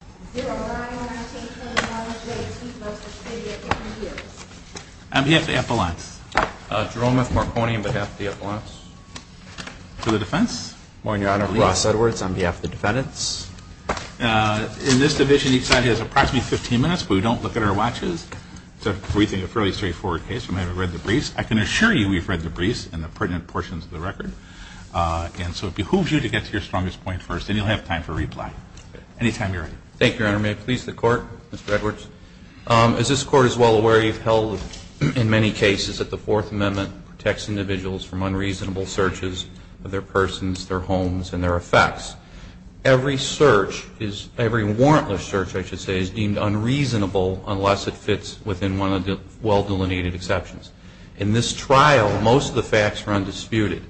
On behalf of the Epelance, Jerome M. Marconi, on behalf of the Epelance, to the defense. On behalf of the defendants. In this division each side has approximately 15 minutes, but we don't look at our watches. It's a fairly straightforward case. I can assure you we've read the briefs and the pertinent portions of the record. And so it behooves you to get to your strongest point first, and you'll have time to reply. Anytime you're ready. Thank you, Your Honor. May it please the Court, Mr. Edwards. As this Court is well aware, you've held in many cases that the Fourth Amendment protects individuals from unreasonable searches of their persons, their homes, and their effects. Every search, every warrantless search, I should say, is deemed unreasonable unless it fits within one of the well-delineated exceptions. In this trial, most of the facts are undisputed.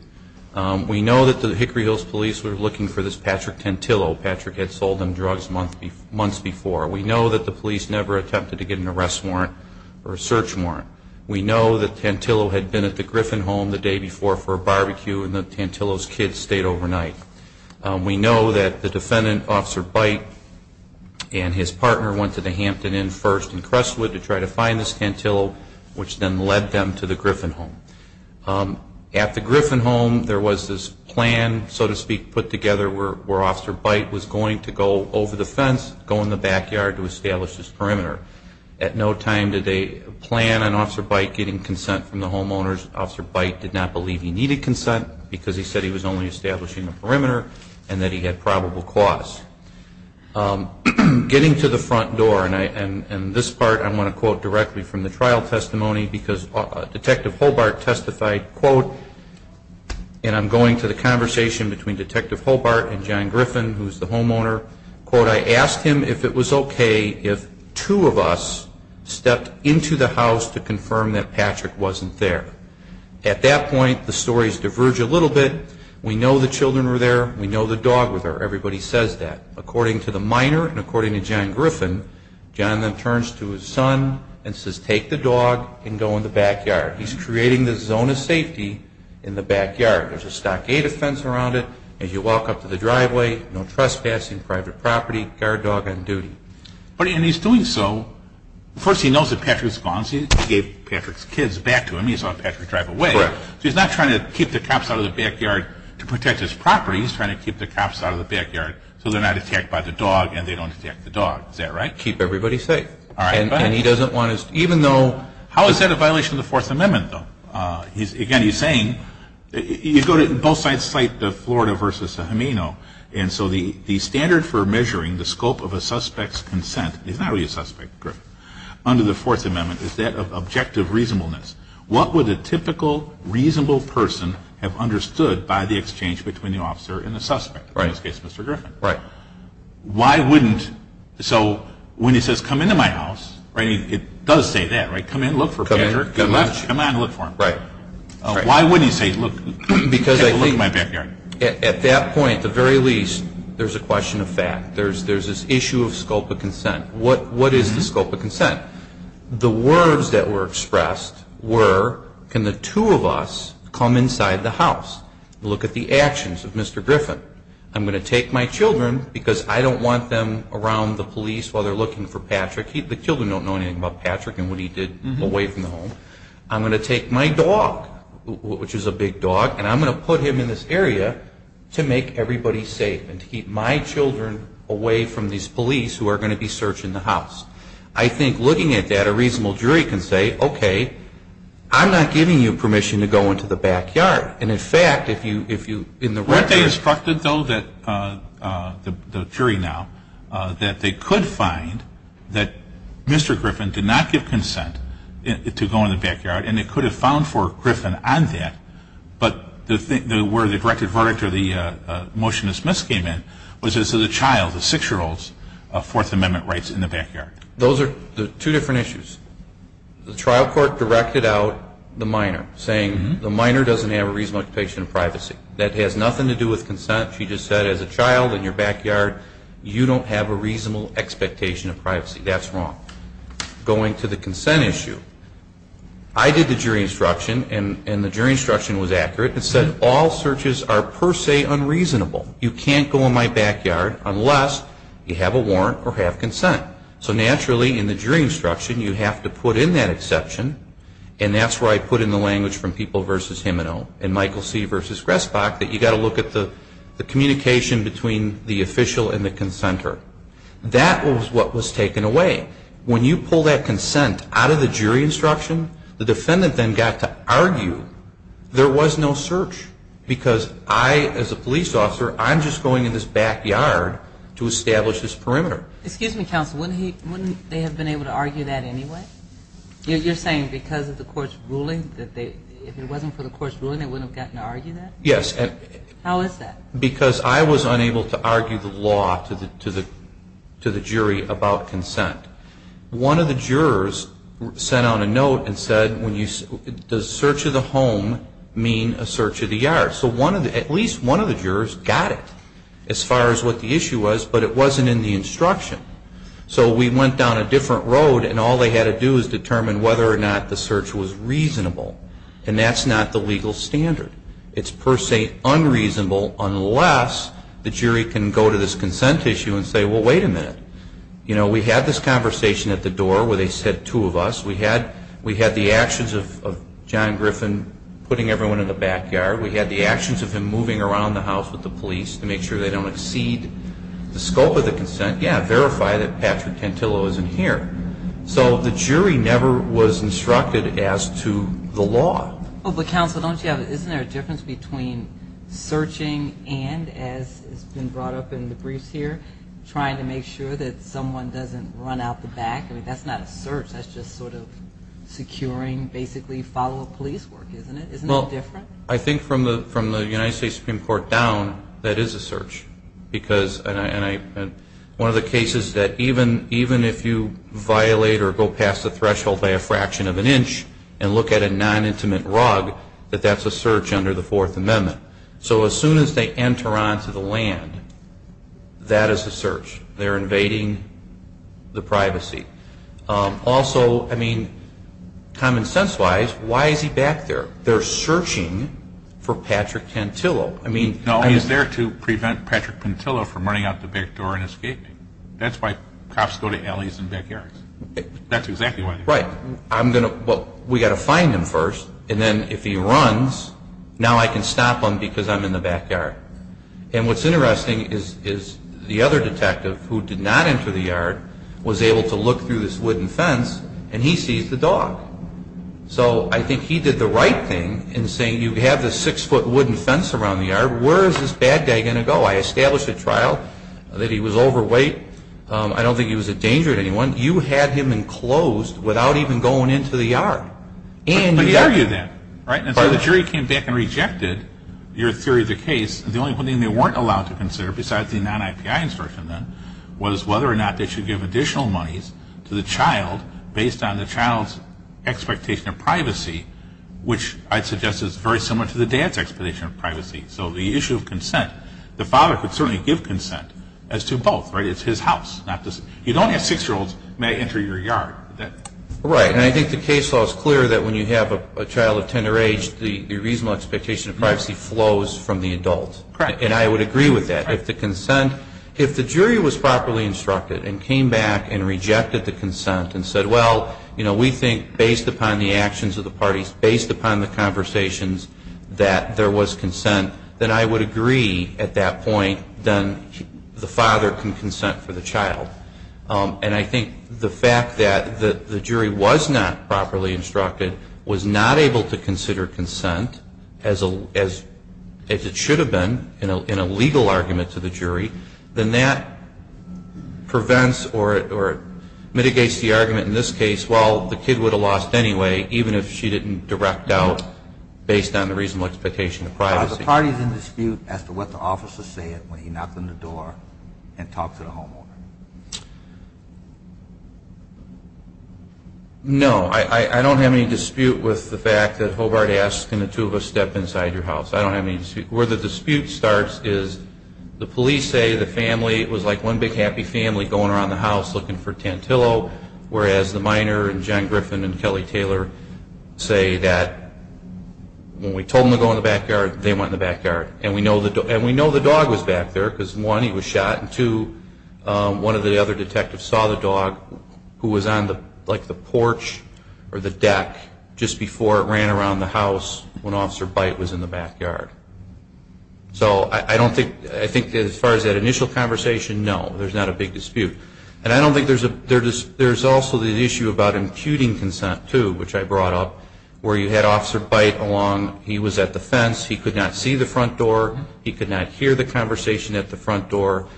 We know that the Hickory Hills Police were looking for this Patrick Tantillo. Patrick had sold them drugs months before. We know that the police never attempted to get an arrest warrant or a search warrant. We know that Tantillo had been at the Griffin home the day before for a barbecue, and that Tantillo's kids stayed overnight. We know that the defendant, Officer Byte, and his partner went to the Hampton Inn first in Crestwood to try to find this Tantillo, which then led them to the Griffin home. At the Griffin home, there was this plan, so to speak, put together where Officer Byte was going to go over the fence, go in the backyard to establish his perimeter. At no time did they plan on Officer Byte getting consent from the homeowners. Officer Byte did not believe he needed consent because he said he was only establishing the perimeter and that he had probable cause. Getting to the front door, and this part I want to quote directly from the trial testimony because Detective Hobart testified, quote, and I'm going to the conversation between Detective Hobart and John Griffin, who's the homeowner, quote, I asked him if it was okay if two of us stepped into the house to confirm that Patrick wasn't there. At that point, the stories diverge a little bit. We know the children were there. We know the dog was there. Everybody says that. According to the minor and according to John Griffin, John then turns to his son and says, take the dog and go in the backyard. He's creating this zone of safety in the backyard. There's a stockade fence around it. As you walk up to the driveway, no trespassing, private property, guard dog on duty. And he's doing so. First, he knows that Patrick's gone, so he gave Patrick's kids back to him. He saw Patrick drive away. Correct. So he's not trying to keep the cops out of the backyard to protect his property. No, he's trying to keep the cops out of the backyard so they're not attacked by the dog and they don't attack the dog. Is that right? Keep everybody safe. All right. And he doesn't want to, even though, how is that a violation of the Fourth Amendment, though? Again, he's saying, you go to both sides of the Florida versus the Hemino, and so the standard for measuring the scope of a suspect's consent, he's not really a suspect, under the Fourth Amendment, is that of objective reasonableness. What would a typical reasonable person have understood by the exchange between the officer and the suspect? In this case, Mr. Griffin. Right. Why wouldn't, so when he says, come into my house, it does say that, right? Come in, look for Patrick. Come in and look for him. Right. Why wouldn't he say, look, take a look at my backyard? At that point, at the very least, there's a question of fact. There's this issue of scope of consent. What is the scope of consent? The words that were expressed were, can the two of us come inside the house? Look at the actions of Mr. Griffin. I'm going to take my children, because I don't want them around the police while they're looking for Patrick. The children don't know anything about Patrick and what he did away from home. I'm going to take my dog, which is a big dog, and I'm going to put him in this area to make everybody safe and to keep my children away from these police who are going to be searching the house. I think looking at that, a reasonable jury can say, okay, I'm not giving you permission to go into the backyard. And, in fact, if you, in the record. Weren't they instructed, though, that, the jury now, that they could find that Mr. Griffin did not give consent to go in the backyard, and they could have found for Griffin on that, but where the directed verdict or the motion of the child, the six-year-old's Fourth Amendment rights in the backyard? Those are two different issues. The trial court directed out the minor, saying the minor doesn't have a reasonable expectation of privacy. That has nothing to do with consent. She just said, as a child in your backyard, you don't have a reasonable expectation of privacy. That's wrong. Going to the consent issue, I did the jury instruction, and the jury instruction was accurate. It said all searches are per se unreasonable. You can't go in my backyard unless you have a warrant or have consent. So, naturally, in the jury instruction, you have to put in that exception, and that's where I put in the language from People v. Himino and Michael C. v. Gressbach, that you've got to look at the communication between the official and the consenter. That was what was taken away. When you pull that consent out of the jury instruction, the defendant then got to argue. There was no search because I, as a police officer, I'm just going in this backyard to establish this perimeter. Excuse me, counsel. Wouldn't they have been able to argue that anyway? You're saying because of the court's ruling that if it wasn't for the court's ruling, they wouldn't have gotten to argue that? Yes. How is that? Because I was unable to argue the law to the jury about consent. One of the jurors sent out a note and said, does search of the home mean a search of the yard? So at least one of the jurors got it as far as what the issue was, but it wasn't in the instruction. So we went down a different road, and all they had to do is determine whether or not the search was reasonable, and that's not the legal standard. It's per se unreasonable unless the jury can go to this consent issue and say, well, wait a minute. You know, we had this conversation at the door where they said two of us. We had the actions of John Griffin putting everyone in the backyard. We had the actions of him moving around the house with the police to make sure they don't exceed the scope of the consent. Yeah, verify that Patrick Tantillo isn't here. So the jury never was instructed as to the law. But, counsel, isn't there a difference between searching and, as has been brought up in the briefs here, trying to make sure that someone doesn't run out the back? I mean, that's not a search. That's just sort of securing basically follow-up police work, isn't it? Isn't that different? Well, I think from the United States Supreme Court down, that is a search. And one of the cases that even if you violate or go past the threshold by a fraction of an inch and look at a non-intimate rug, that that's a search under the Fourth Amendment. So as soon as they enter onto the land, that is a search. They're invading the privacy. Also, I mean, common sense-wise, why is he back there? They're searching for Patrick Tantillo. No, he's there to prevent Patrick Tantillo from running out the back door and escaping. That's why cops go to alleys and backyards. That's exactly why. Right. We've got to find him first, and then if he runs, now I can stop him because I'm in the backyard. And what's interesting is the other detective who did not enter the yard was able to look through this wooden fence and he sees the dog. So I think he did the right thing in saying you have this six-foot wooden fence around the yard. Where is this bad guy going to go? I established a trial that he was overweight. I don't think he was a danger to anyone. You had him enclosed without even going into the yard. But he argued that. So the jury came back and rejected your theory of the case. The only thing they weren't allowed to consider, besides the non-IPI insertion then, was whether or not they should give additional monies to the child based on the child's expectation of privacy, which I'd suggest is very similar to the dad's expectation of privacy. So the issue of consent, the father could certainly give consent as to both. It's his house. You don't have six-year-olds may enter your yard. Right. And I think the case law is clear that when you have a child of tender age, the reasonable expectation of privacy flows from the adult. Correct. And I would agree with that. If the jury was properly instructed and came back and rejected the consent and said, well, we think based upon the actions of the parties, based upon the conversations, that there was consent, then I would agree at that point that the father can consent for the child. And I think the fact that the jury was not properly instructed, was not able to consider consent as it should have been in a legal argument to the jury, then that prevents or mitigates the argument in this case, well, the kid would have lost anyway, even if she didn't direct doubt based on the reasonable expectation of privacy. Are the parties in dispute as to what the officer said when he knocked on the door and talked to the homeowner? No. I don't have any dispute with the fact that Hobart asked can the two of us step inside your house. I don't have any dispute. Where the dispute starts is the police say the family was like one big happy family going around the house looking for Tantillo, whereas the minor and John Griffin and Kelly Taylor say that when we told them to go in the backyard, they went in the backyard. And we know the dog was back there because one, he was shot, and two, one of the other detectives saw the dog who was on the porch or the deck just before it ran around the house when Officer Byte was in the backyard. So I think as far as that initial conversation, no, there's not a big dispute. And I don't think there's also the issue about imputing consent, too, which I brought up, where you had Officer Byte along. He was at the fence. He could not see the front door. He could not hear the conversation at the front door.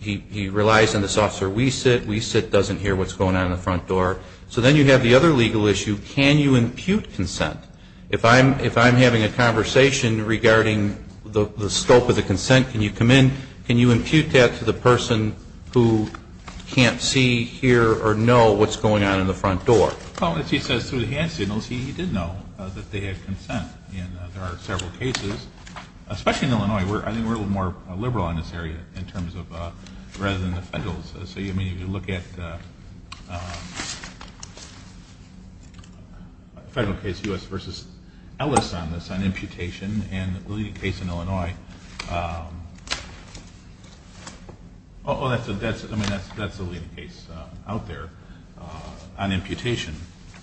He relies on this officer we sit. We sit doesn't hear what's going on in the front door. So then you have the other legal issue. Can you impute consent? If I'm having a conversation regarding the scope of the consent, can you come in? Can you impute that to the person who can't see, hear, or know what's going on in the front door? Well, as he says through the hand signals, he did know that they had consent. And there are several cases, especially in Illinois. I think we're a little more liberal in this area in terms of rather than the federals. So, I mean, if you look at the federal case, U.S. v. Ellis on this, on imputation, and the leading case in Illinois, oh, that's the leading case out there on imputation.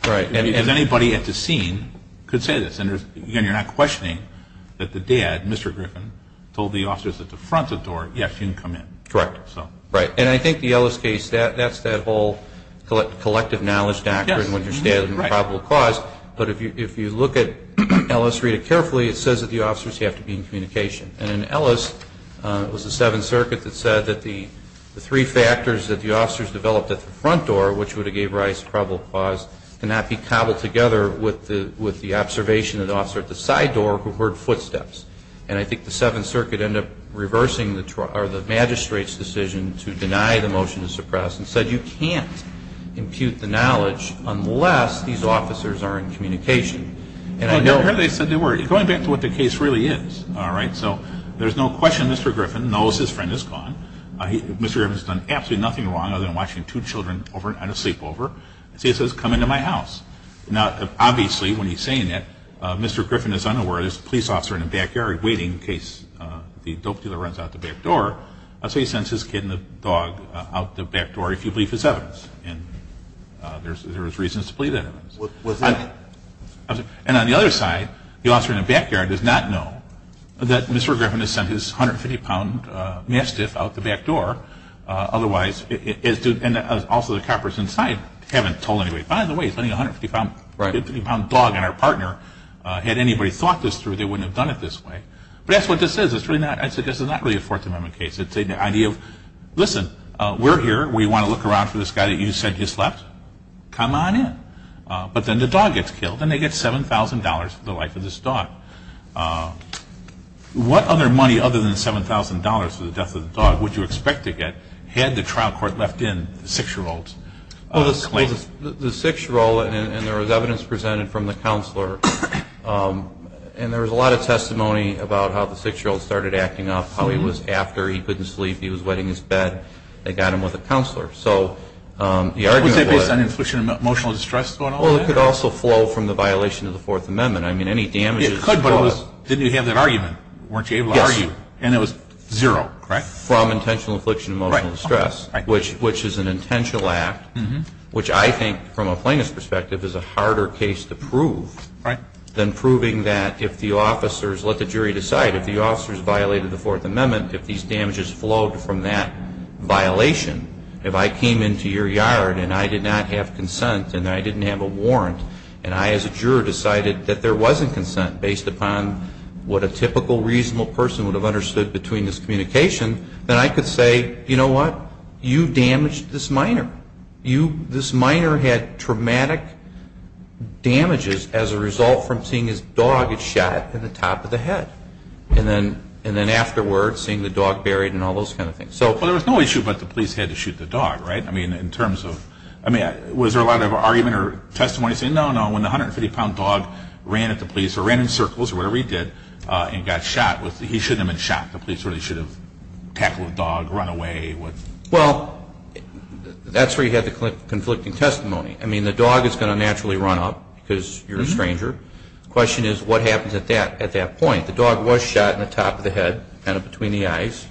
Right. Because anybody at the scene could say this. And, again, you're not questioning that the dad, Mr. Griffin, told the officers at the front door, yes, you can come in. Correct. Right. And I think the Ellis case, that's that whole collective knowledge doctrine when you're standing in probable cause. But if you look at Ellis, read it carefully, it says that the officers have to be in communication. And in Ellis, it was the Seventh Circuit that said that the three factors that the officers developed at the front door, which would have gave Rice probable cause, cannot be cobbled together with the observation of the officer at the side door who heard footsteps. And I think the Seventh Circuit ended up reversing the magistrate's decision to deny the motion to suppress and said you can't impute the knowledge unless these officers are in communication. I heard they said they were. Going back to what the case really is, all right, so there's no question Mr. Griffin knows his friend is gone. Mr. Griffin's done absolutely nothing wrong other than watching two children sleepover. See, it says, come into my house. Now, obviously, when he's saying that, Mr. Griffin is unaware there's a police officer in the backyard waiting in case the dope dealer runs out the back door. So he sends his kid and the dog out the back door if you believe his evidence. And there's reasons to believe that. And on the other side, the officer in the backyard does not know that Mr. Griffin has sent his 150-pound mastiff out the back door. And also the coppers inside haven't told anybody. By the way, he's letting a 150-pound dog in our partner. Had anybody thought this through, they wouldn't have done it this way. But that's what this is. This is not really a Fourth Amendment case. It's the idea of, listen, we're here. We want to look around for this guy that you said just left. Come on in. But then the dog gets killed, and they get $7,000 for the life of this dog. What other money other than $7,000 for the death of the dog would you expect to get had the trial court left in the 6-year-old's claim? Well, the 6-year-old, and there was evidence presented from the counselor, and there was a lot of testimony about how the 6-year-old started acting up, how he was after. He couldn't sleep. He was wetting his bed. They got him with a counselor. Was that based on emotional distress going on? Well, it could also flow from the violation of the Fourth Amendment. It could, but didn't you have that argument? Weren't you able to argue? Yes. And it was zero, correct? From intentional affliction of emotional distress, which is an intentional act, which I think from a plaintiff's perspective is a harder case to prove than proving that if the officers let the jury decide. If the officers violated the Fourth Amendment, if these damages flowed from that violation, if I came into your yard, and I did not have consent, and I didn't have a warrant, and I as a juror decided that there wasn't consent based upon what a typical reasonable person would have understood between this communication, then I could say, you know what? You damaged this minor. This minor had traumatic damages as a result from seeing his dog get shot in the top of the head, and then afterwards seeing the dog buried and all those kind of things. Well, there was no issue about the police had to shoot the dog, right? I mean, in terms of, I mean, was there a lot of argument or testimony saying, no, no, when the 150-pound dog ran at the police or ran in circles or whatever he did and got shot, he shouldn't have been shot. The police really should have tackled the dog, run away. Well, that's where you have the conflicting testimony. I mean, the dog is going to naturally run up because you're a stranger. The question is what happens at that point. The dog was shot in the top of the head, kind of between the eyes.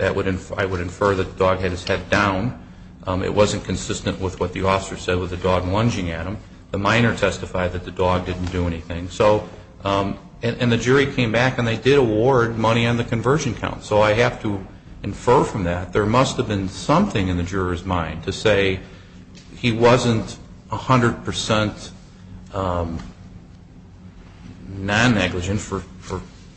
I would infer that the dog had his head down. It wasn't consistent with what the officer said with the dog lunging at him. The minor testified that the dog didn't do anything. And the jury came back, and they did award money on the conversion count, so I have to infer from that there must have been something in the juror's mind to say he wasn't 100% non-negligent for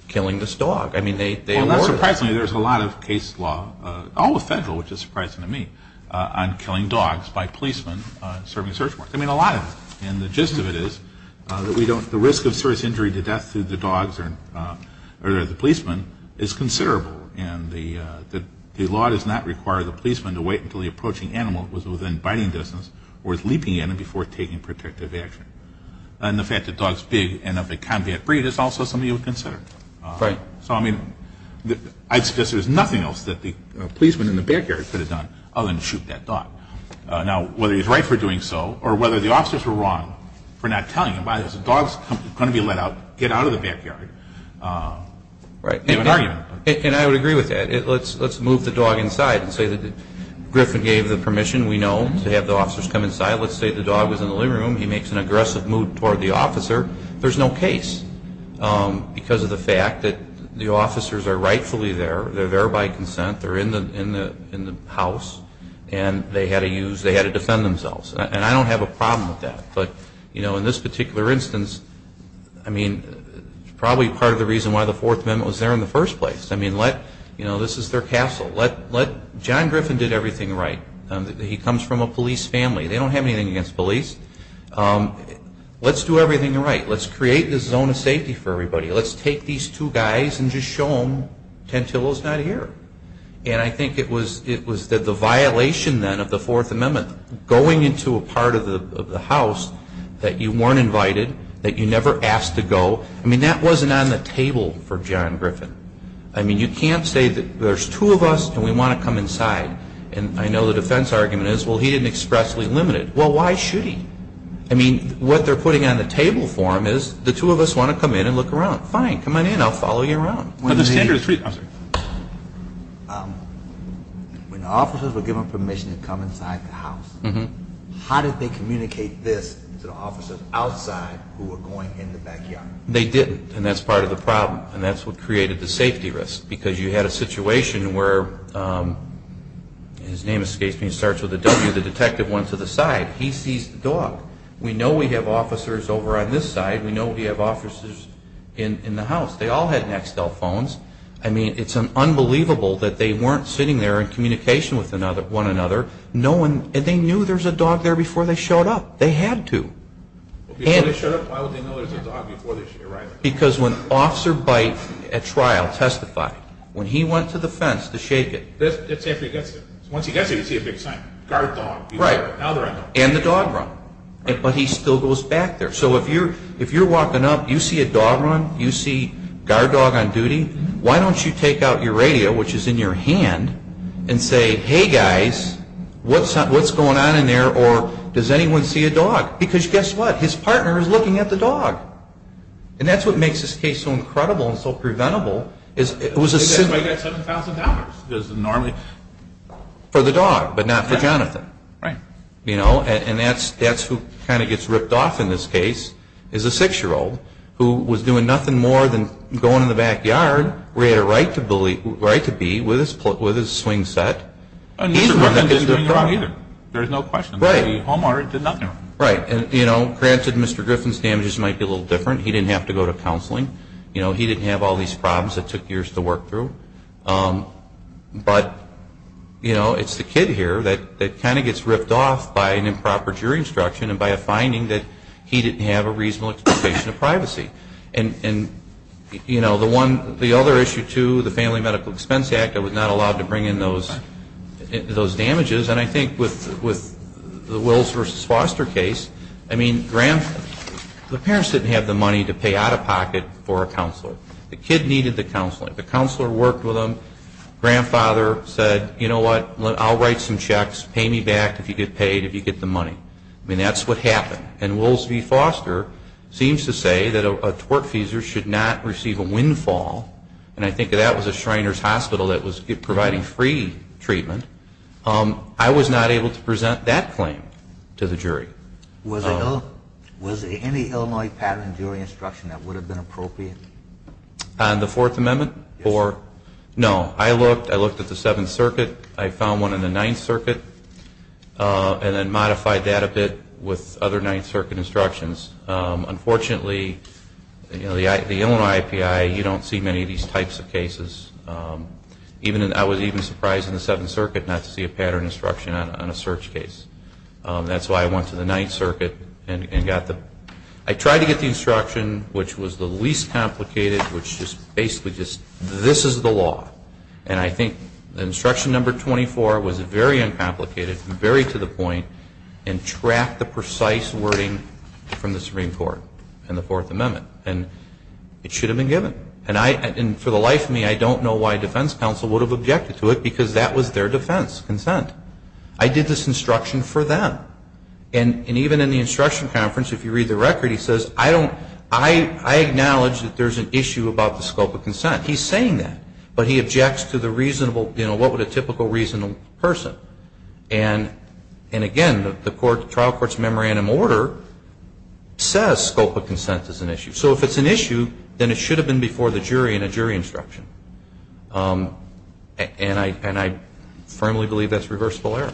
killing this dog. Well, not surprisingly, there's a lot of case law, all the federal, which is surprising to me, on killing dogs by policemen serving search warrants. I mean, a lot of it. And the gist of it is that the risk of serious injury to death through the dogs or the policemen is considerable, and the law does not require the policeman to wait until the approaching animal was within biting distance or was leaping at him before taking protective action. And the fact that dogs big and of a combat breed is also something you would consider. Right. So, I mean, I'd suggest there's nothing else that the policeman in the backyard could have done other than shoot that dog. Now, whether he's right for doing so or whether the officers were wrong for not telling him, why is a dog going to be let out, get out of the backyard, is an argument. Right. And I would agree with that. Let's move the dog inside and say that Griffin gave the permission, we know, to have the officers come inside. Let's say the dog was in the living room. He makes an aggressive move toward the officer. There's no case because of the fact that the officers are rightfully there. They're there by consent. They're in the house, and they had to defend themselves. And I don't have a problem with that. But, you know, in this particular instance, I mean, it's probably part of the reason why the Fourth Amendment was there in the first place. I mean, let, you know, this is their castle. Let John Griffin did everything right. He comes from a police family. They don't have anything against police. Let's do everything right. Let's create the zone of safety for everybody. Let's take these two guys and just show them Tantillo's not here. And I think it was the violation, then, of the Fourth Amendment, going into a part of the house that you weren't invited, that you never asked to go. I mean, that wasn't on the table for John Griffin. I mean, you can't say that there's two of us, and we want to come inside. And I know the defense argument is, well, he didn't expressly limit it. Well, why should he? I mean, what they're putting on the table for him is the two of us want to come in and look around. Fine. Come on in. I'll follow you around. When the officers were given permission to come inside the house, how did they communicate this to the officers outside who were going in the backyard? They didn't. And that's part of the problem. And that's what created the safety risk. Because you had a situation where his name escapes me and starts with a W. The detective went to the side. He sees the dog. We know we have officers over on this side. We know we have officers in the house. They all had Nxtel phones. I mean, it's unbelievable that they weren't sitting there in communication with one another, and they knew there was a dog there before they showed up. They had to. Before they showed up, why would they know there was a dog before they arrived? Because when Officer Byte at trial testified, when he went to the fence to shake it. Once he gets there, you see a big sign. Guard dog. Right. And the dog run. But he still goes back there. So if you're walking up, you see a dog run, you see guard dog on duty, why don't you take out your radio, which is in your hand, and say, Hey, guys, what's going on in there? Or does anyone see a dog? Because guess what? His partner is looking at the dog. And that's what makes this case so incredible and so preventable. That's why he got $7,000. For the dog, but not for Jonathan. Right. And that's who kind of gets ripped off in this case is a 6-year-old who was doing nothing more than going in the backyard where he had a right to be with his swing set. And Mr. Griffin didn't do anything wrong either. There's no question about it. The homeowner did nothing wrong. Right. And, you know, granted, Mr. Griffin's damages might be a little different. He didn't have to go to counseling. You know, he didn't have all these problems that took years to work through. But, you know, it's the kid here that kind of gets ripped off by an improper jury instruction and by a finding that he didn't have a reasonable expectation of privacy. And, you know, the other issue, too, the Family Medical Expense Act, it was not allowed to bring in those damages. And I think with the Wills v. Foster case, I mean, the parents didn't have the money to pay out-of-pocket for a counselor. The kid needed the counseling. The counselor worked with him. Grandfather said, you know what, I'll write some checks. Pay me back if you get paid, if you get the money. I mean, that's what happened. And Wills v. Foster seems to say that a tortfeasor should not receive a windfall, and I think that was a Shriners Hospital that was providing free treatment. I was not able to present that claim to the jury. Was there any Illinois pattern in jury instruction that would have been appropriate? On the Fourth Amendment? Yes. No. I looked. I looked at the Seventh Circuit. I found one in the Ninth Circuit and then modified that a bit with other Ninth Circuit instructions. Unfortunately, you know, the Illinois IPI, you don't see many of these types of cases. I was even surprised in the Seventh Circuit not to see a pattern instruction on a search case. That's why I went to the Ninth Circuit and got the – I tried to get the instruction which was the least complicated, which just basically just, this is the law. And I think instruction number 24 was very uncomplicated, very to the point, and tracked the precise wording from the Supreme Court and the Fourth Amendment. And it should have been given. And for the life of me, I don't know why defense counsel would have objected to it, because that was their defense consent. I did this instruction for them. And even in the instruction conference, if you read the record, he says, I acknowledge that there's an issue about the scope of consent. He's saying that. But he objects to the reasonable, you know, what would a typical reasonable person. And, again, the trial court's memorandum order says scope of consent is an issue. So if it's an issue, then it should have been before the jury in a jury instruction. And I firmly believe that's reversible error.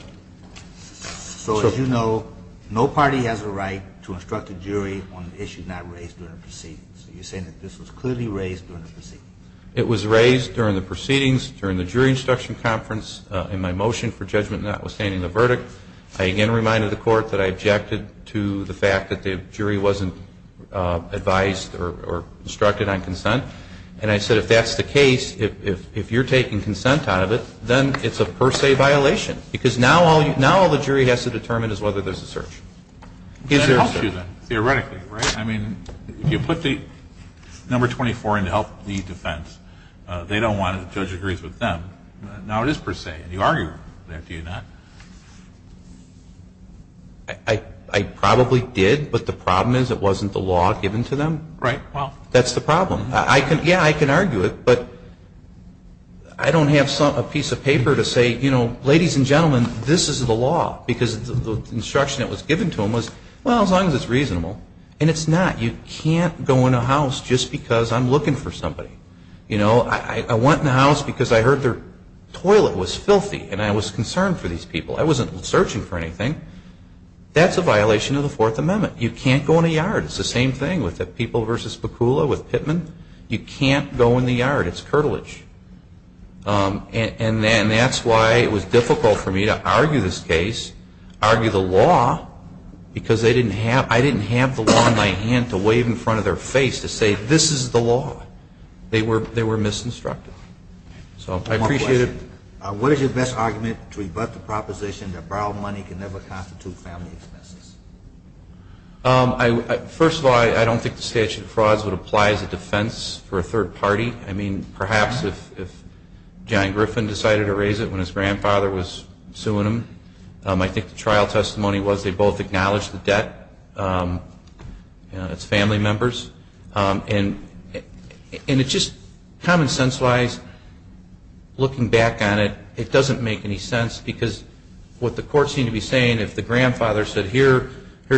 So, as you know, no party has a right to instruct a jury on an issue not raised during a proceeding. So you're saying that this was clearly raised during the proceedings. It was raised during the proceedings, during the jury instruction conference, in my motion for judgment notwithstanding the verdict. I again reminded the court that I objected to the fact that the jury wasn't advised or instructed on consent. And I said, if that's the case, if you're taking consent out of it, then it's a per se violation. Because now all the jury has to determine is whether there's a search. It helps you then, theoretically, right? I mean, if you put the number 24 in to help the defense, they don't want it. The judge agrees with them. Now it is per se. And you argue that, do you not? I probably did. But the problem is it wasn't the law given to them. Right. That's the problem. Yeah, I can argue it. But I don't have a piece of paper to say, you know, ladies and gentlemen, this is the law. Because the instruction that was given to them was, well, as long as it's reasonable. And it's not. You can't go in a house just because I'm looking for somebody. You know, I went in a house because I heard their toilet was filthy and I was concerned for these people. I wasn't searching for anything. That's a violation of the Fourth Amendment. You can't go in a yard. It's the same thing with the people versus Pukula with Pittman. You can't go in the yard. It's curtilage. And that's why it was difficult for me to argue this case, argue the law, because I didn't have the law in my hand to wave in front of their face to say, this is the law. They were misinstructed. So I appreciate it. One question. What is your best argument to rebut the proposition that borrowed money can never constitute family expenses? First of all, I don't think the statute of frauds would apply as a defense for a third party. I mean, perhaps if John Griffin decided to raise it when his grandfather was suing him. I think the trial testimony was they both acknowledged the debt. It's family members. And it just, common sense-wise, looking back on it, it doesn't make any sense, because what the court seemed to be saying, if the grandfather said, here's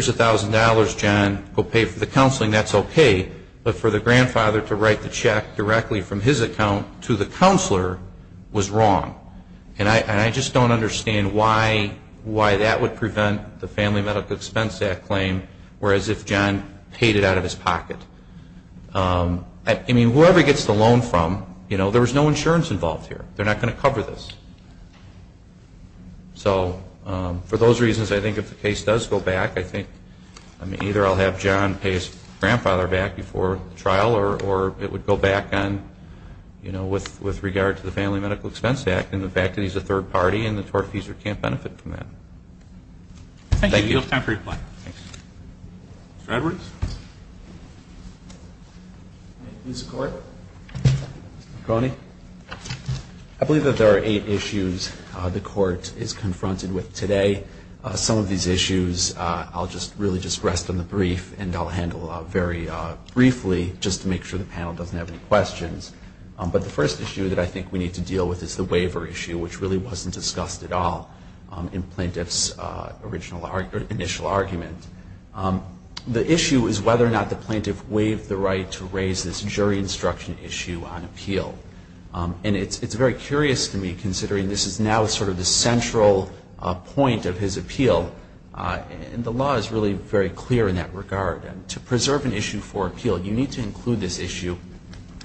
$1,000, John, go pay for the counseling, that's okay. But for the grandfather to write the check directly from his account to the counselor was wrong. And I just don't understand why that would prevent the Family Medical Expense Act claim, whereas if John paid it out of his pocket. I mean, whoever gets the loan from, you know, there was no insurance involved here. They're not going to cover this. So for those reasons, I think if the case does go back, I think, I mean, either I'll have John pay his grandfather back before the trial, or it would go back on, you know, with regard to the Family Medical Expense Act and the fact that he's a third party and the tortfeasor can't benefit from that. We have time for reply. Mr. Edwards? I believe that there are eight issues the court is confronted with today. Some of these issues I'll just really just rest on the brief, and I'll handle very briefly just to make sure the panel doesn't have any questions. But the first issue that I think we need to deal with is the waiver issue, which really wasn't discussed at all in plaintiff's initial argument. The issue is whether or not the plaintiff waived the right to raise this jury instruction issue on appeal. And it's very curious to me, considering this is now sort of the central point of his appeal, and the law is really very clear in that regard. To preserve an issue for appeal, you need to include this issue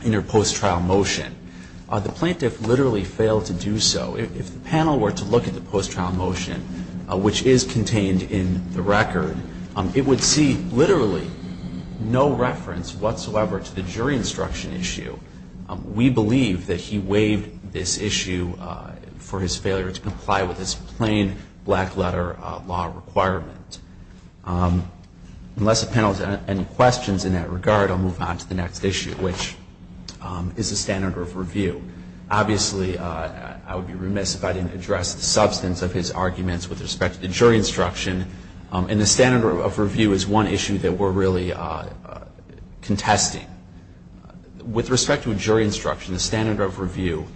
in your post-trial motion. The plaintiff literally failed to do so. If the panel were to look at the post-trial motion, which is contained in the record, it would see literally no reference whatsoever to the jury instruction issue. We believe that he waived this issue for his failure to comply with his plain black letter law requirement. Unless the panel has any questions in that regard, I'll move on to the next issue, which is the standard of review. Obviously, I would be remiss if I didn't address the substance of his arguments with respect to the jury instruction. And the standard of review is one issue that we're really contesting. With respect to a jury instruction, the standard of review,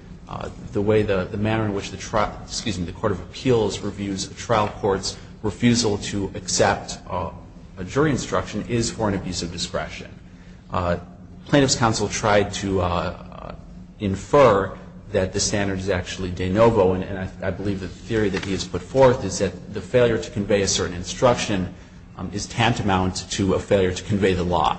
the way the manner in which the Court of Appeals reviews a trial court's refusal to accept a jury instruction is for an abuse of discretion. Plaintiff's counsel tried to infer that the standard is actually de novo. And I believe the theory that he has put forth is that the failure to convey a certain instruction is tantamount to a failure to convey the law.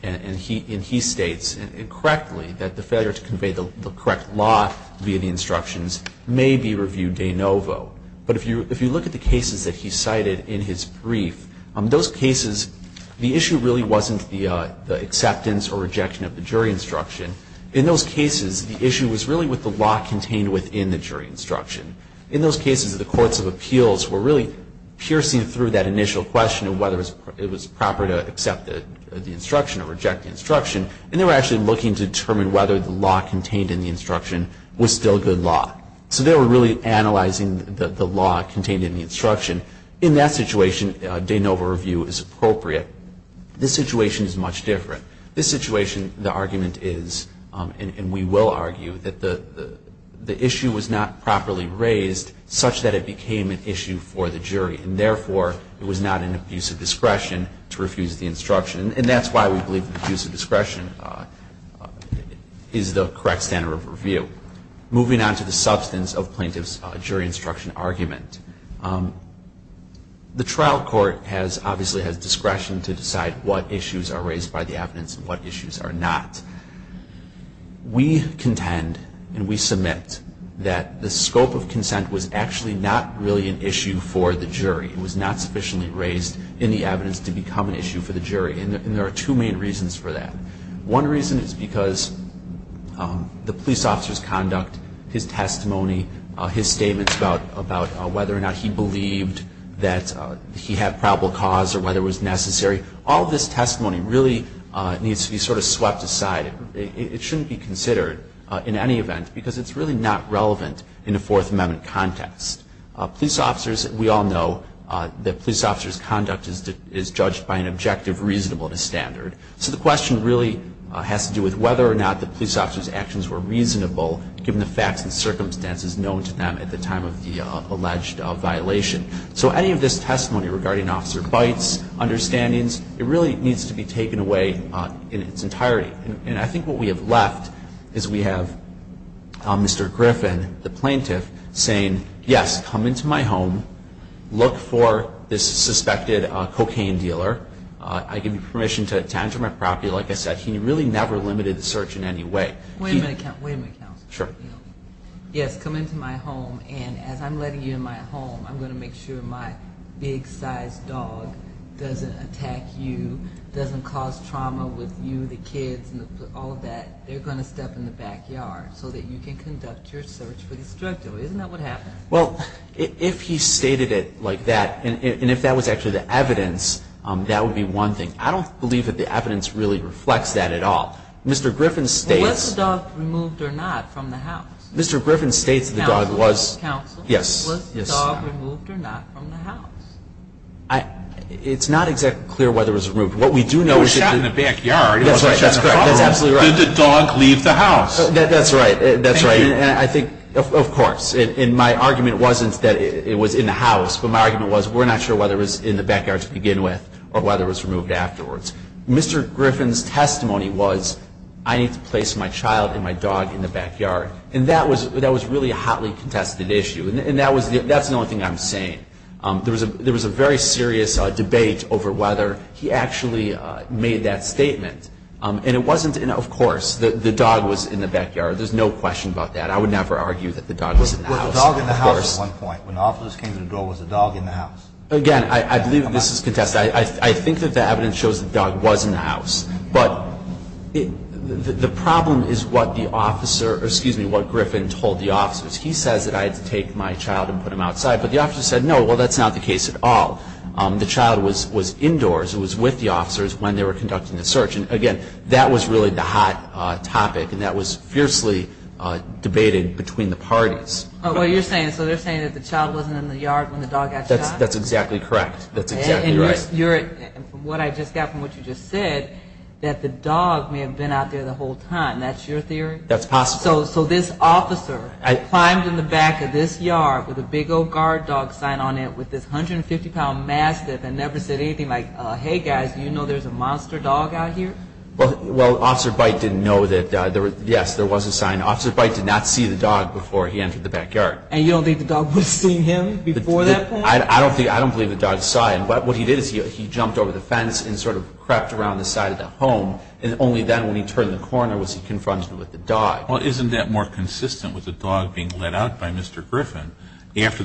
And he states correctly that the failure to convey the correct law via the instructions may be reviewed de novo. But if you look at the cases that he cited in his brief, those cases, the issue really wasn't the acceptance or rejection of the jury instruction. In those cases, the issue was really with the law contained within the jury instruction. In those cases, the Courts of Appeals were really piercing through that initial question of whether it was proper to accept the instruction or reject the instruction, and they were actually looking to determine whether the law contained in the instruction was still good law. In that situation, de novo review is appropriate. This situation is much different. This situation, the argument is, and we will argue, that the issue was not properly raised such that it became an issue for the jury. And therefore, it was not an abuse of discretion to refuse the instruction. And that's why we believe an abuse of discretion is the correct standard of review. Moving on to the substance of plaintiff's jury instruction argument. The trial court obviously has discretion to decide what issues are raised by the evidence and what issues are not. We contend and we submit that the scope of consent was actually not really an issue for the jury. It was not sufficiently raised in the evidence to become an issue for the jury. And there are two main reasons for that. One reason is because the police officer's conduct, his testimony, his statements about whether or not he believed that he had probable cause or whether it was necessary, all of this testimony really needs to be sort of swept aside. It shouldn't be considered in any event because it's really not relevant in a Fourth Amendment context. Police officers, we all know that police officers' conduct is judged by an objective reasonable to standard. So the question really has to do with whether or not the police officer's actions were reasonable, given the facts and circumstances known to them at the time of the alleged violation. So any of this testimony regarding officer bites, understandings, it really needs to be taken away in its entirety. And I think what we have left is we have Mr. Griffin, the plaintiff, saying, yes, come into my home. Look for this suspected cocaine dealer. I give you permission to attend to my property. Like I said, he really never limited the search in any way. Wait a minute. Wait a minute, counsel. Sure. Yes, come into my home. And as I'm letting you in my home, I'm going to make sure my big-sized dog doesn't attack you, doesn't cause trauma with you, the kids, and all of that. They're going to step in the backyard so that you can conduct your search for this drug dealer. Isn't that what happened? Well, if he stated it like that, and if that was actually the evidence, that would be one thing. I don't believe that the evidence really reflects that at all. Mr. Griffin states. Was the dog removed or not from the house? Mr. Griffin states the dog was. Counsel. Yes. Was the dog removed or not from the house? It's not exactly clear whether it was removed. What we do know is that. It was shot in the backyard. That's right. That's absolutely right. Did the dog leave the house? That's right. That's right. Thank you. And I think, of course, and my argument wasn't that it was in the house, but my argument was we're not sure whether it was in the backyard to begin with or whether it was removed afterwards. Mr. Griffin's testimony was I need to place my child and my dog in the backyard, and that was really a hotly contested issue, and that's the only thing I'm saying. There was a very serious debate over whether he actually made that statement, and it wasn't in, of course, the dog was in the backyard. There's no question about that. I would never argue that the dog was in the house. Was the dog in the house at one point? When officers came to the door, was the dog in the house? Again, I believe this is contested. I think that the evidence shows the dog was in the house, but the problem is what the officer or, excuse me, what Griffin told the officers. He says that I had to take my child and put him outside, but the officers said, no, well, that's not the case at all. The child was indoors. It was with the officers when they were conducting the search, and, again, that was really the hot topic, and that was fiercely debated between the parties. Oh, what you're saying, so they're saying that the child wasn't in the yard when the dog got shot? That's exactly correct. That's exactly right. And from what I just got from what you just said, that the dog may have been out there the whole time. That's your theory? That's possible. So this officer climbed in the back of this yard with a big old guard dog sign on it with this 150-pound mastiff and never said anything like, hey, guys, you know there's a monster dog out here? Well, Officer Byte didn't know that, yes, there was a sign. Officer Byte did not see the dog before he entered the backyard. And you don't think the dog would have seen him before that point? I don't believe the dog saw him, but what he did is he jumped over the fence and sort of crept around the side of the home, and only then when he turned the corner was he confronted with the dog. Well, isn't that more consistent with the dog being let out by Mr. Griffin after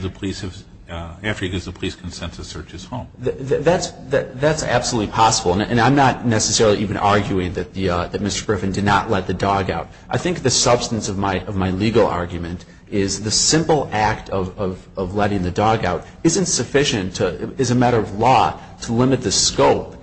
he gives the police consent to search his home? That's absolutely possible. And I'm not necessarily even arguing that Mr. Griffin did not let the dog out. I think the substance of my legal argument is the simple act of letting the dog out isn't sufficient as a matter of law to limit the scope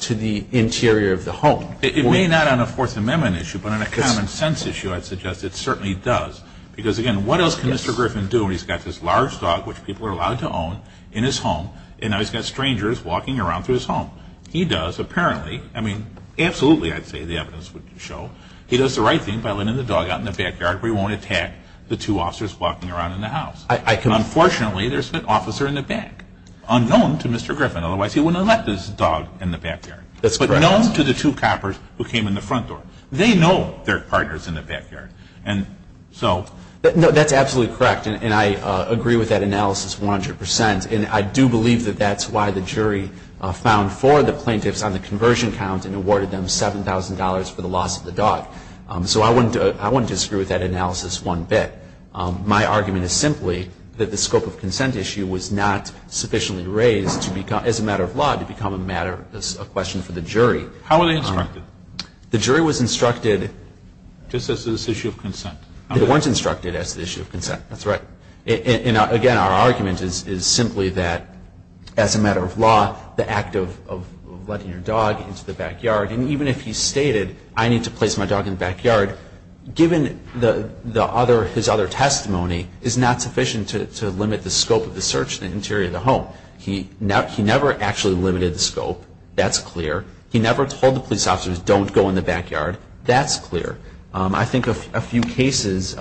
to the interior of the home. It may not on a Fourth Amendment issue, but on a common sense issue I'd suggest it certainly does. Because, again, what else can Mr. Griffin do when he's got this large dog, which people are allowed to own, in his home, and now he's got strangers walking around through his home? He does apparently, I mean, absolutely I'd say the evidence would show, he does the right thing by letting the dog out in the backyard where he won't attack the two officers walking around in the house. Unfortunately, there's an officer in the back, unknown to Mr. Griffin, otherwise he wouldn't have let this dog in the backyard. But known to the two coppers who came in the front door. They know they're partners in the backyard. And so. No, that's absolutely correct. And I agree with that analysis 100%. And I do believe that that's why the jury found four of the plaintiffs on the conversion count and awarded them $7,000 for the loss of the dog. So I wouldn't disagree with that analysis one bit. My argument is simply that the scope of consent issue was not sufficiently raised as a matter of law to become a question for the jury. How were they instructed? The jury was instructed. Just as an issue of consent. They weren't instructed as an issue of consent. That's right. And again, our argument is simply that as a matter of law, the act of letting your dog into the backyard, and even if he stated I need to place my dog in the backyard, given his other testimony is not sufficient to limit the scope of the search in the interior of the home. He never actually limited the scope. That's clear. He never told the police officers don't go in the backyard. That's clear. I think a few cases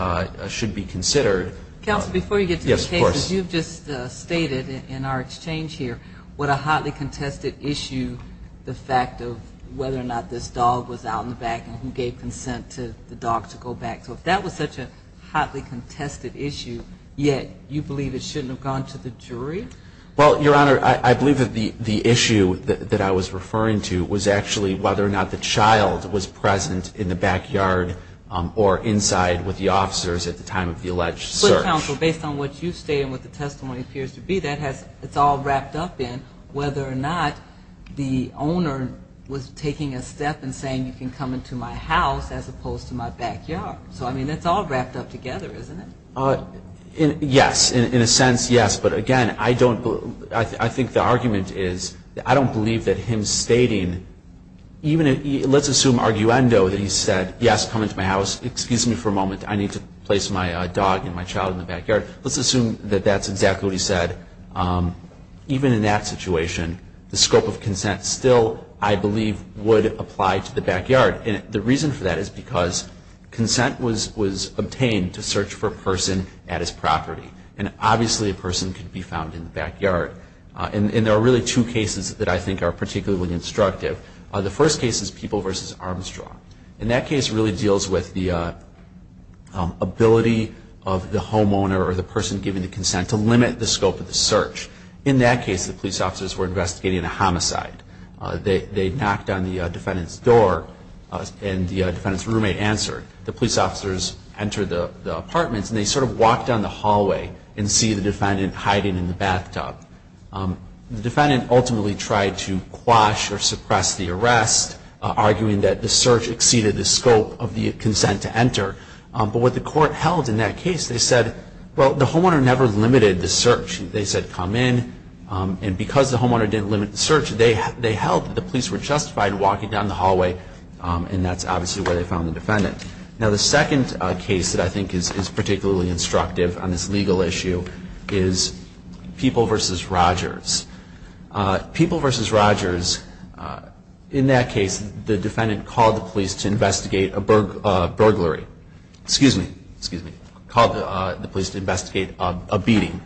should be considered. Counsel, before you get to the cases, you've just stated in our exchange here what a hotly contested issue the fact of whether or not this dog was out in the back and who gave consent to the dog to go back. So if that was such a hotly contested issue, yet you believe it shouldn't have gone to the jury? Well, Your Honor, I believe that the issue that I was referring to was actually whether or not the child was present in the backyard or inside with the officers at the time of the alleged search. But, Counsel, based on what you state and what the testimony appears to be, that's all wrapped up in whether or not the owner was taking a step and saying, you can come into my house as opposed to my backyard. So, I mean, that's all wrapped up together, isn't it? Yes. In a sense, yes. But, again, I think the argument is I don't believe that him stating, even let's assume arguendo that he said, yes, come into my house. Excuse me for a moment. I need to place my dog and my child in the backyard. Let's assume that that's exactly what he said. Even in that situation, the scope of consent still, I believe, would apply to the backyard. And the reason for that is because consent was obtained to search for a person at his property. And, obviously, a person could be found in the backyard. And there are really two cases that I think are particularly instructive. The first case is People v. Armstrong. And that case really deals with the ability of the homeowner or the person giving the consent to limit the scope of the search. In that case, the police officers were investigating a homicide. They knocked on the defendant's door and the defendant's roommate answered. The police officers entered the apartment and they sort of walked down the hallway and see the defendant hiding in the bathtub. The defendant ultimately tried to quash or suppress the arrest, arguing that the search exceeded the scope of the consent to enter. But what the court held in that case, they said, well, the homeowner never limited the search. They said, come in. And because the homeowner didn't limit the search, they held that the police were justified walking down the hallway. And that's obviously where they found the defendant. Now, the second case that I think is particularly instructive on this legal issue is People v. Rogers. People v. Rogers, in that case, the defendant called the police to investigate a burglary. Excuse me. Excuse me. Called the police to investigate a beating.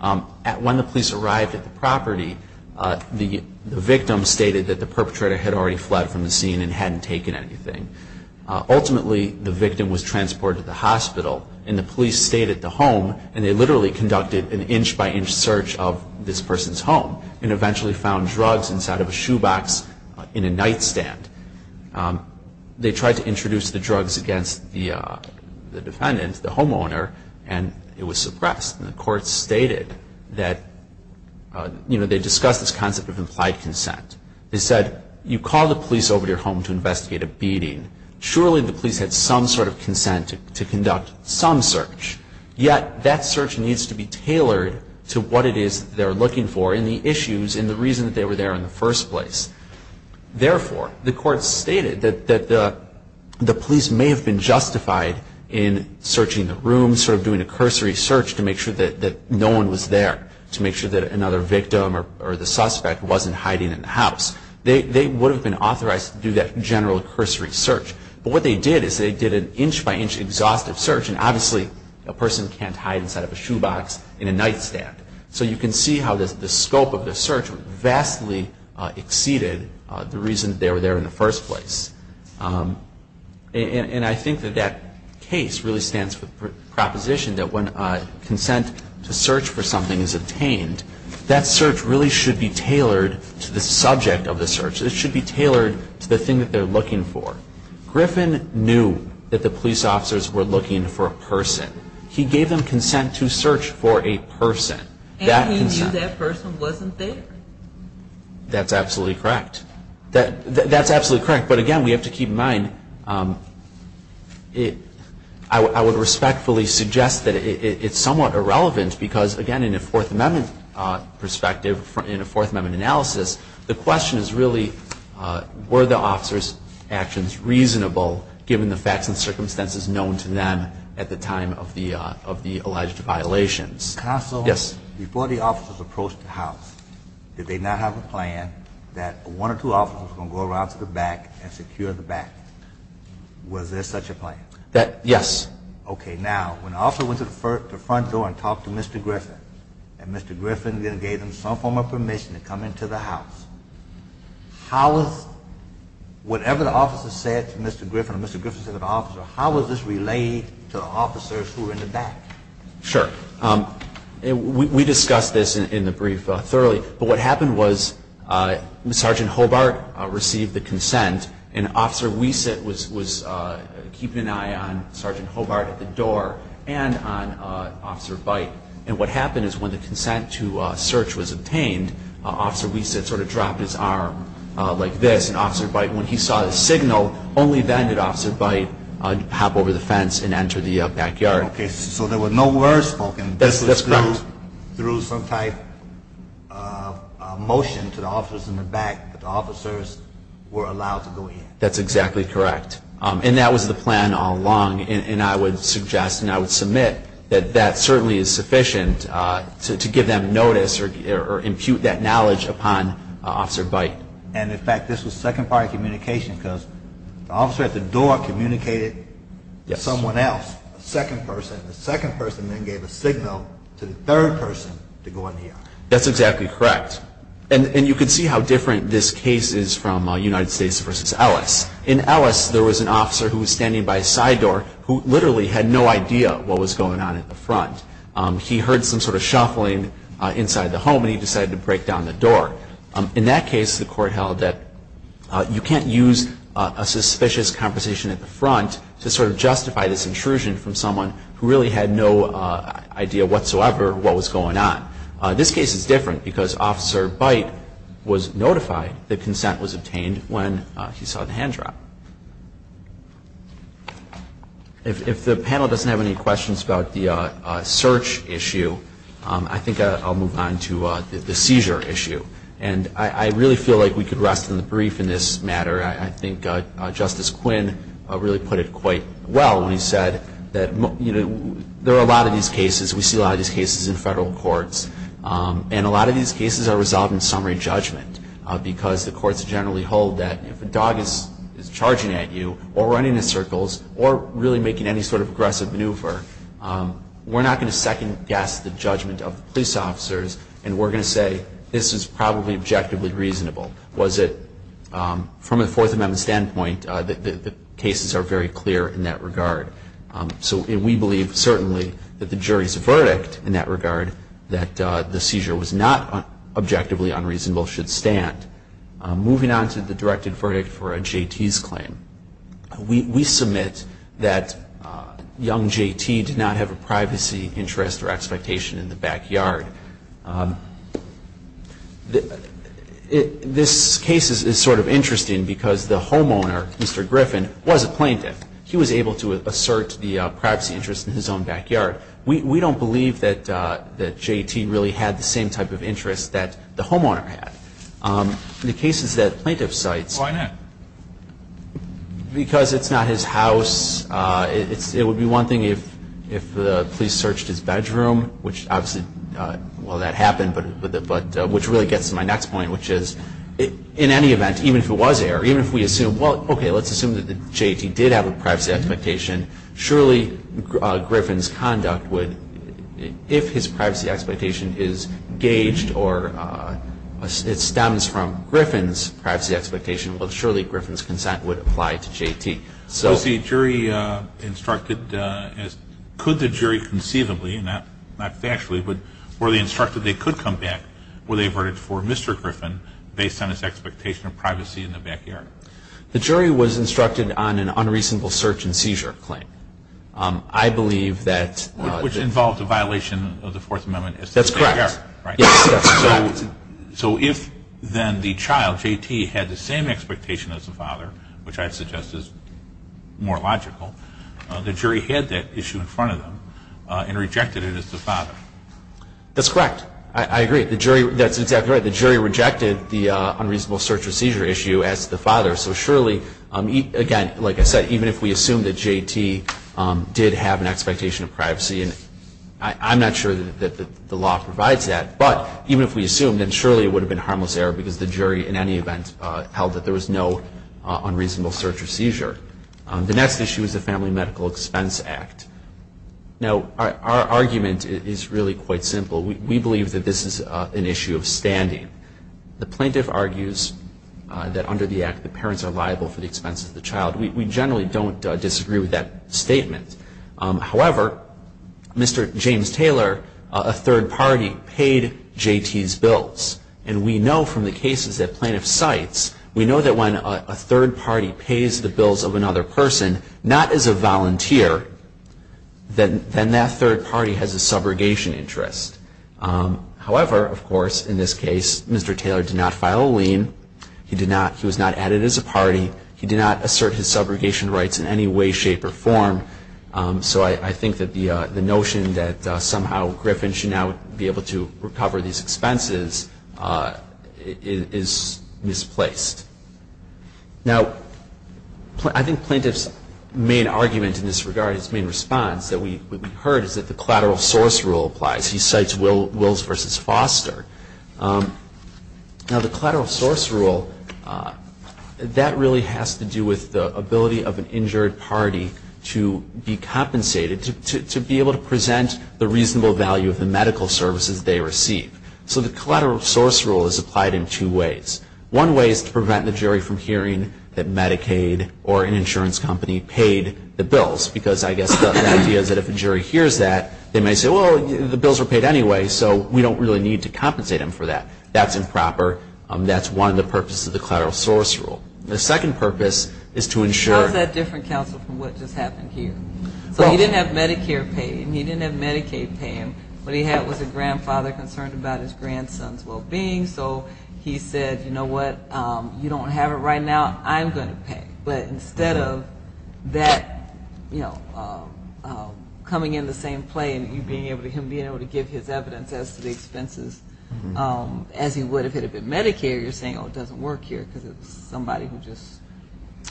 When the police arrived at the property, the victim stated that the perpetrator had already fled from the scene and hadn't taken anything. Ultimately, the victim was transported to the hospital and the police stayed at the home and they literally conducted an inch-by-inch search of this person's home and eventually found drugs inside of a shoebox in a nightstand. They tried to introduce the drugs against the defendant, the homeowner, and it was suppressed. And the court stated that, you know, they discussed this concept of implied consent. They said, you call the police over to your home to investigate a beating. Surely the police had some sort of consent to conduct some search, yet that search needs to be tailored to what it is they're looking for and the issues and the reason that they were there in the first place. Therefore, the court stated that the police may have been justified in searching the room, in sort of doing a cursory search to make sure that no one was there, to make sure that another victim or the suspect wasn't hiding in the house. They would have been authorized to do that general cursory search. But what they did is they did an inch-by-inch exhaustive search and obviously a person can't hide inside of a shoebox in a nightstand. So you can see how the scope of the search vastly exceeded the reason they were there in the first place. And I think that that case really stands for the proposition that when consent to search for something is obtained, that search really should be tailored to the subject of the search. It should be tailored to the thing that they're looking for. Griffin knew that the police officers were looking for a person. He gave them consent to search for a person. And he knew that person wasn't there? That's absolutely correct. That's absolutely correct. But, again, we have to keep in mind, I would respectfully suggest that it's somewhat irrelevant because, again, in a Fourth Amendment perspective, in a Fourth Amendment analysis, the question is really were the officers' actions reasonable, given the facts and circumstances known to them at the time of the alleged violations. Counsel, before the officers approached the house, did they not have a plan that one or two officers were going to go around to the back and secure the back? Was there such a plan? Yes. Okay. Now, when the officer went to the front door and talked to Mr. Griffin and Mr. Griffin then gave him some form of permission to come into the house, how was whatever the officer said to Mr. Griffin or Mr. Griffin said to the officer, how was this relayed to the officers who were in the back? Sure. We discussed this in the brief thoroughly, but what happened was Sergeant Hobart received the consent and Officer Wiese was keeping an eye on Sergeant Hobart at the door and on Officer Byte. And what happened is when the consent to search was obtained, Officer Wiese sort of dropped his arm like this, and Officer Byte, when he saw the signal, only then did Officer Byte hop over the fence and enter the backyard. Okay, so there were no words spoken. That's correct. This was through some type of motion to the officers in the back that the officers were allowed to go in. That's exactly correct, and that was the plan all along, and I would suggest and I would submit that that certainly is sufficient to give them notice or impute that knowledge upon Officer Byte. And, in fact, this was second-party communication because the officer at the door communicated to someone else, a second person. The second person then gave a signal to the third person to go in the yard. That's exactly correct, and you can see how different this case is from United States v. Ellis. In Ellis, there was an officer who was standing by a side door who literally had no idea what was going on at the front. He heard some sort of shuffling inside the home, and he decided to break down the door. In that case, the court held that you can't use a suspicious conversation at the front to sort of justify this intrusion from someone who really had no idea whatsoever what was going on. This case is different because Officer Byte was notified that consent was obtained when he saw the hand drop. If the panel doesn't have any questions about the search issue, I think I'll move on to the seizure issue. And I really feel like we could rest in the brief in this matter. I think Justice Quinn really put it quite well when he said that there are a lot of these cases, we see a lot of these cases in federal courts, and a lot of these cases are resolved in summary judgment because the courts generally hold that if a dog is charging at you or running in circles or really making any sort of aggressive maneuver, we're not going to second-guess the judgment of the police officers, and we're going to say this is probably objectively reasonable. From a Fourth Amendment standpoint, the cases are very clear in that regard. So we believe certainly that the jury's verdict in that regard, that the seizure was not objectively unreasonable, should stand. Moving on to the directed verdict for a JT's claim. We submit that young JT did not have a privacy interest or expectation in the backyard. This case is sort of interesting because the homeowner, Mr. Griffin, was a plaintiff. He was able to assert the privacy interest in his own backyard. We don't believe that JT really had the same type of interest that the homeowner had. The case is that plaintiff cites. Why not? Because it's not his house. It would be one thing if the police searched his bedroom, which obviously, well, that happened, but which really gets to my next point, which is in any event, even if it was air, even if we assume, well, okay, let's assume that JT did have a privacy expectation, surely Griffin's conduct would, if his privacy expectation is gauged or it stems from Griffin's privacy expectation, well, surely Griffin's consent would apply to JT. So the jury instructed, could the jury conceivably, not factually, but were they instructed they could come back with a verdict for Mr. Griffin based on his expectation of privacy in the backyard? The jury was instructed on an unreasonable search and seizure claim. I believe that. Which involved a violation of the Fourth Amendment. That's correct. So if then the child, JT, had the same expectation as the father, which I suggest is more logical, the jury had that issue in front of them and rejected it as the father. That's correct. I agree. That's exactly right. The jury rejected the unreasonable search and seizure issue as the father. So surely, again, like I said, even if we assume that JT did have an expectation of privacy, I'm not sure that the law provides that, but even if we assumed it, surely it would have been harmless error because the jury, in any event, held that there was no unreasonable search or seizure. The next issue is the Family Medical Expense Act. Now, our argument is really quite simple. We believe that this is an issue of standing. The plaintiff argues that under the act the parents are liable for the expenses of the child. We generally don't disagree with that statement. However, Mr. James Taylor, a third party, paid JT's bills. And we know from the cases that plaintiff cites, we know that when a third party pays the bills of another person, not as a volunteer, then that third party has a subrogation interest. However, of course, in this case, Mr. Taylor did not file a lien. He was not added as a party. He did not assert his subrogation rights in any way, shape, or form. So I think that the notion that somehow Griffin should now be able to recover these expenses is misplaced. Now, I think plaintiff's main argument in this regard, his main response that we heard, is that the collateral source rule applies. He cites Wills v. Foster. Now, the collateral source rule, that really has to do with the ability of an injured party to be compensated, to be able to present the reasonable value of the medical services they receive. So the collateral source rule is applied in two ways. One way is to prevent the jury from hearing that Medicaid or an insurance company paid the bills, because I guess the idea is that if a jury hears that, they may say, well, the bills were paid anyway, so we don't really need to compensate them for that. That's improper. That's one of the purposes of the collateral source rule. The second purpose is to ensure — How is that different, counsel, from what just happened here? So he didn't have Medicare paid, and he didn't have Medicaid pay him. What he had was a grandfather concerned about his grandson's well-being, so he said, you know what, you don't have it right now, I'm going to pay. But instead of that, you know, coming into the same play and him being able to give his evidence as to the expenses as he would if it had been Medicare, you're saying, oh, it doesn't work here because it's somebody who just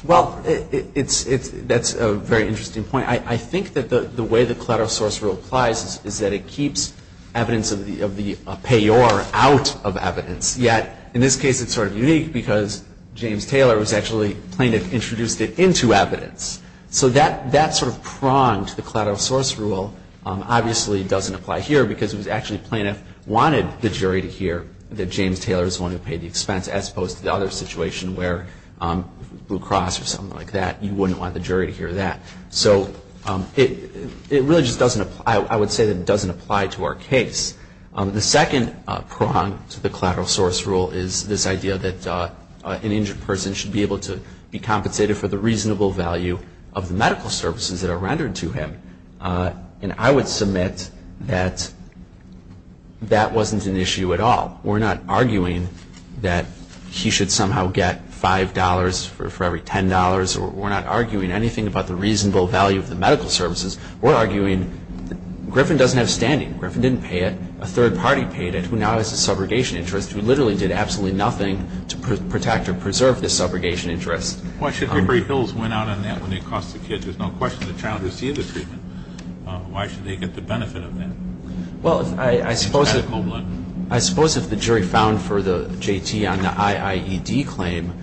— Well, that's a very interesting point. I think that the way the collateral source rule applies is that it keeps evidence of the payor out of evidence, yet in this case it's sort of unique because James Taylor was actually — plaintiff introduced it into evidence. So that sort of prong to the collateral source rule obviously doesn't apply here, because it was actually plaintiff wanted the jury to hear that James Taylor is the one who paid the expense, as opposed to the other situation where Blue Cross or something like that, you wouldn't want the jury to hear that. So it really just doesn't apply — I would say that it doesn't apply to our case. The second prong to the collateral source rule is this idea that an injured person should be able to be compensated for the reasonable value of the medical services that are rendered to him. And I would submit that that wasn't an issue at all. We're not arguing that he should somehow get $5 for every $10, or we're not arguing anything about the reasonable value of the medical services. We're arguing Griffin doesn't have standing. Griffin didn't pay it. A third party paid it, who now has a subrogation interest, who literally did absolutely nothing to protect or preserve this subrogation interest. Why should Hickory Hills win out on that when they cost the kid? There's no question the child received the treatment. Why should they get the benefit of that? Well, I suppose if the jury found for the JT on the IIED claim,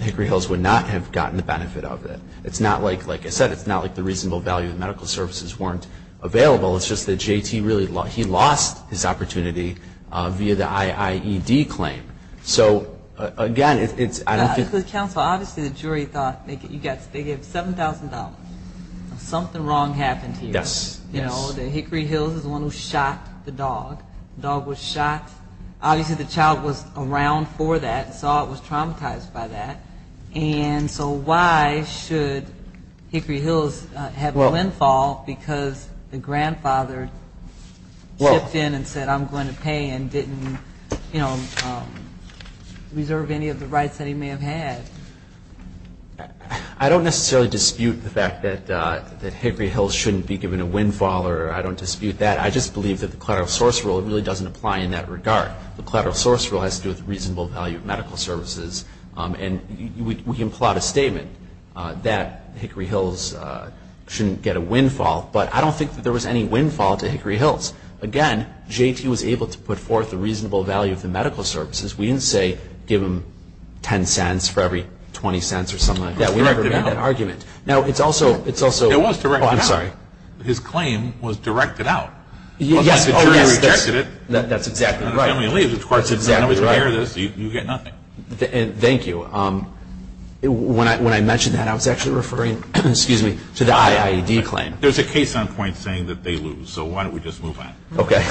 Hickory Hills would not have gotten the benefit of it. It's not like, like I said, it's not like the reasonable value of medical services weren't available. It's just that JT really — he lost his opportunity via the IIED claim. So, again, it's — Because, counsel, obviously the jury thought — they gave $7,000. Something wrong happened here. Yes, yes. You know, Hickory Hills is the one who shot the dog. The dog was shot. Obviously the child was around for that and saw it was traumatized by that. And so why should Hickory Hills have the windfall because the grandfather stepped in and said, I'm going to pay and didn't, you know, reserve any of the rights that he may have had? I don't necessarily dispute the fact that Hickory Hills shouldn't be given a windfall, or I don't dispute that. I just believe that the collateral source rule really doesn't apply in that regard. The collateral source rule has to do with the reasonable value of medical services. And we can plot a statement that Hickory Hills shouldn't get a windfall, but I don't think that there was any windfall to Hickory Hills. Again, JT was able to put forth the reasonable value of the medical services. We didn't say give him $0.10 for every $0.20 or something like that. We never made that argument. It was directed out. Now, it's also – It was directed out. Oh, I'm sorry. His claim was directed out. Yes. Oh, yes. The jury rejected it. That's exactly right. The family leaves, of course. It's exactly right. You get nothing. Thank you. When I mentioned that, I was actually referring to the IAED claim. There's a case on point saying that they lose, so why don't we just move on? Okay.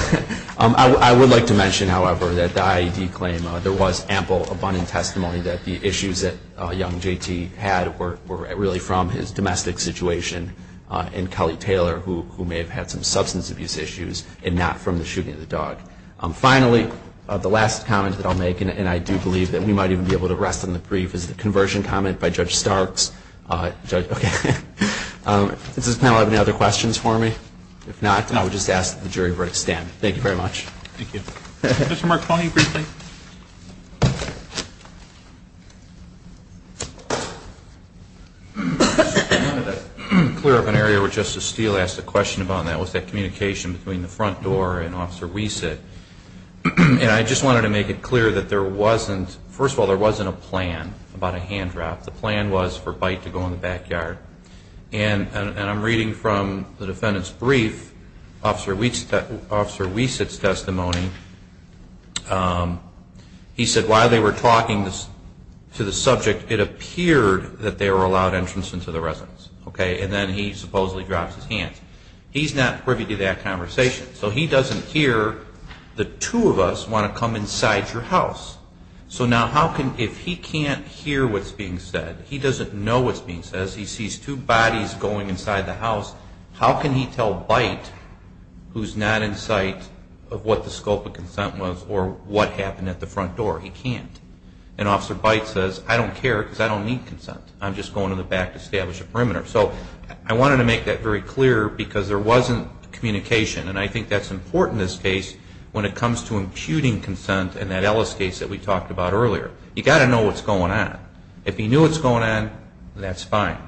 I would like to mention, however, that the IAED claim there was ample, abundant testimony that the issues that young JT had were really from his domestic situation and Kelly Taylor, who may have had some substance abuse issues and not from the shooting of the dog. Finally, the last comment that I'll make, and I do believe that we might even be able to rest on the brief, is the conversion comment by Judge Starks. Does this panel have any other questions for me? If not, then I would just ask that the jury stand. Thank you very much. Thank you. Mr. Marconi, briefly. I wanted to clear up an area where Justice Steele asked a question about, and that was that communication between the front door and Officer Wiese. And I just wanted to make it clear that there wasn't, first of all, there wasn't a plan about a hand drop. The plan was for Byte to go in the backyard. And I'm reading from the defendant's brief, Officer Wiese's testimony. He said while they were talking to the subject, it appeared that they were allowed entrance into the residence. And then he supposedly drops his hands. He's not privy to that conversation. So he doesn't hear the two of us want to come inside your house. So now if he can't hear what's being said, he doesn't know what's being said, he sees two bodies going inside the house. How can he tell Byte, who's not in sight, of what the scope of consent was or what happened at the front door? He can't. And Officer Byte says, I don't care because I don't need consent. I'm just going to the back to establish a perimeter. So I wanted to make that very clear because there wasn't communication. And I think that's important in this case when it comes to imputing consent in that Ellis case that we talked about earlier. You've got to know what's going on. If he knew what's going on, that's fine.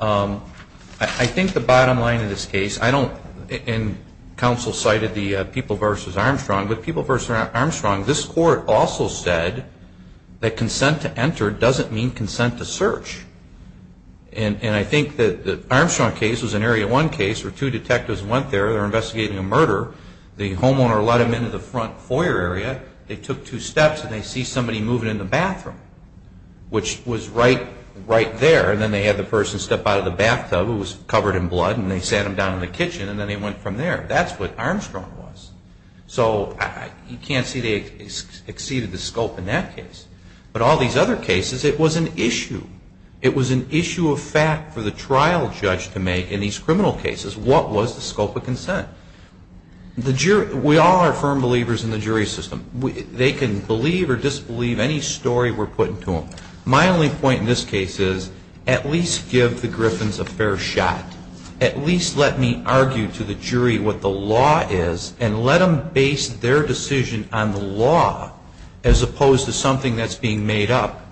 I think the bottom line in this case, and counsel cited the People v. Armstrong, but People v. Armstrong, this court also said that consent to enter doesn't mean consent to search. And I think that the Armstrong case was an Area 1 case where two detectives went there. They were investigating a murder. The homeowner let them into the front foyer area. They took two steps and they see somebody moving in the bathroom, which was right there. And then they had the person step out of the bathtub, it was covered in blood, and they sat him down in the kitchen and then they went from there. That's what Armstrong was. So you can't see they exceeded the scope in that case. But all these other cases, it was an issue. It was an issue of fact for the trial judge to make in these criminal cases. What was the scope of consent? We all are firm believers in the jury system. They can believe or disbelieve any story we're putting to them. My only point in this case is at least give the Griffins a fair shot. At least let me argue to the jury what the law is and let them base their decision on the law as opposed to something that's being made up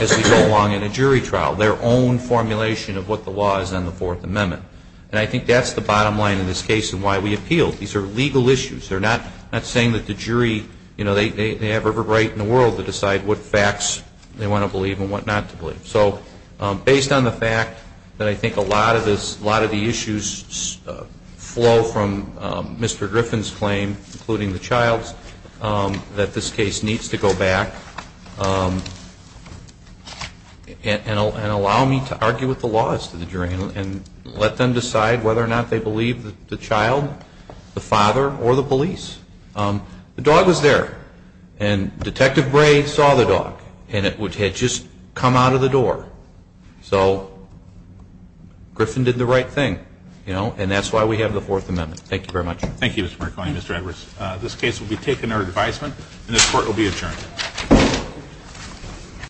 as we go along in a jury trial, their own formulation of what the law is on the Fourth Amendment. And I think that's the bottom line in this case and why we appeal. These are legal issues. They're not saying that the jury, you know, they have every right in the world to decide what facts they want to believe and what not to believe. So based on the fact that I think a lot of the issues flow from Mr. Griffin's claim, including the child's, that this case needs to go back and allow me to argue what the law is to the jury and let them decide whether or not they believe the child, the father, or the police. The dog was there and Detective Bray saw the dog and it had just come out of the door. So Griffin did the right thing, you know, and that's why we have the Fourth Amendment. Thank you very much. Thank you, Mr. McClellan. Mr. Edwards, this case will be taken under advisement and this Court will be adjourned.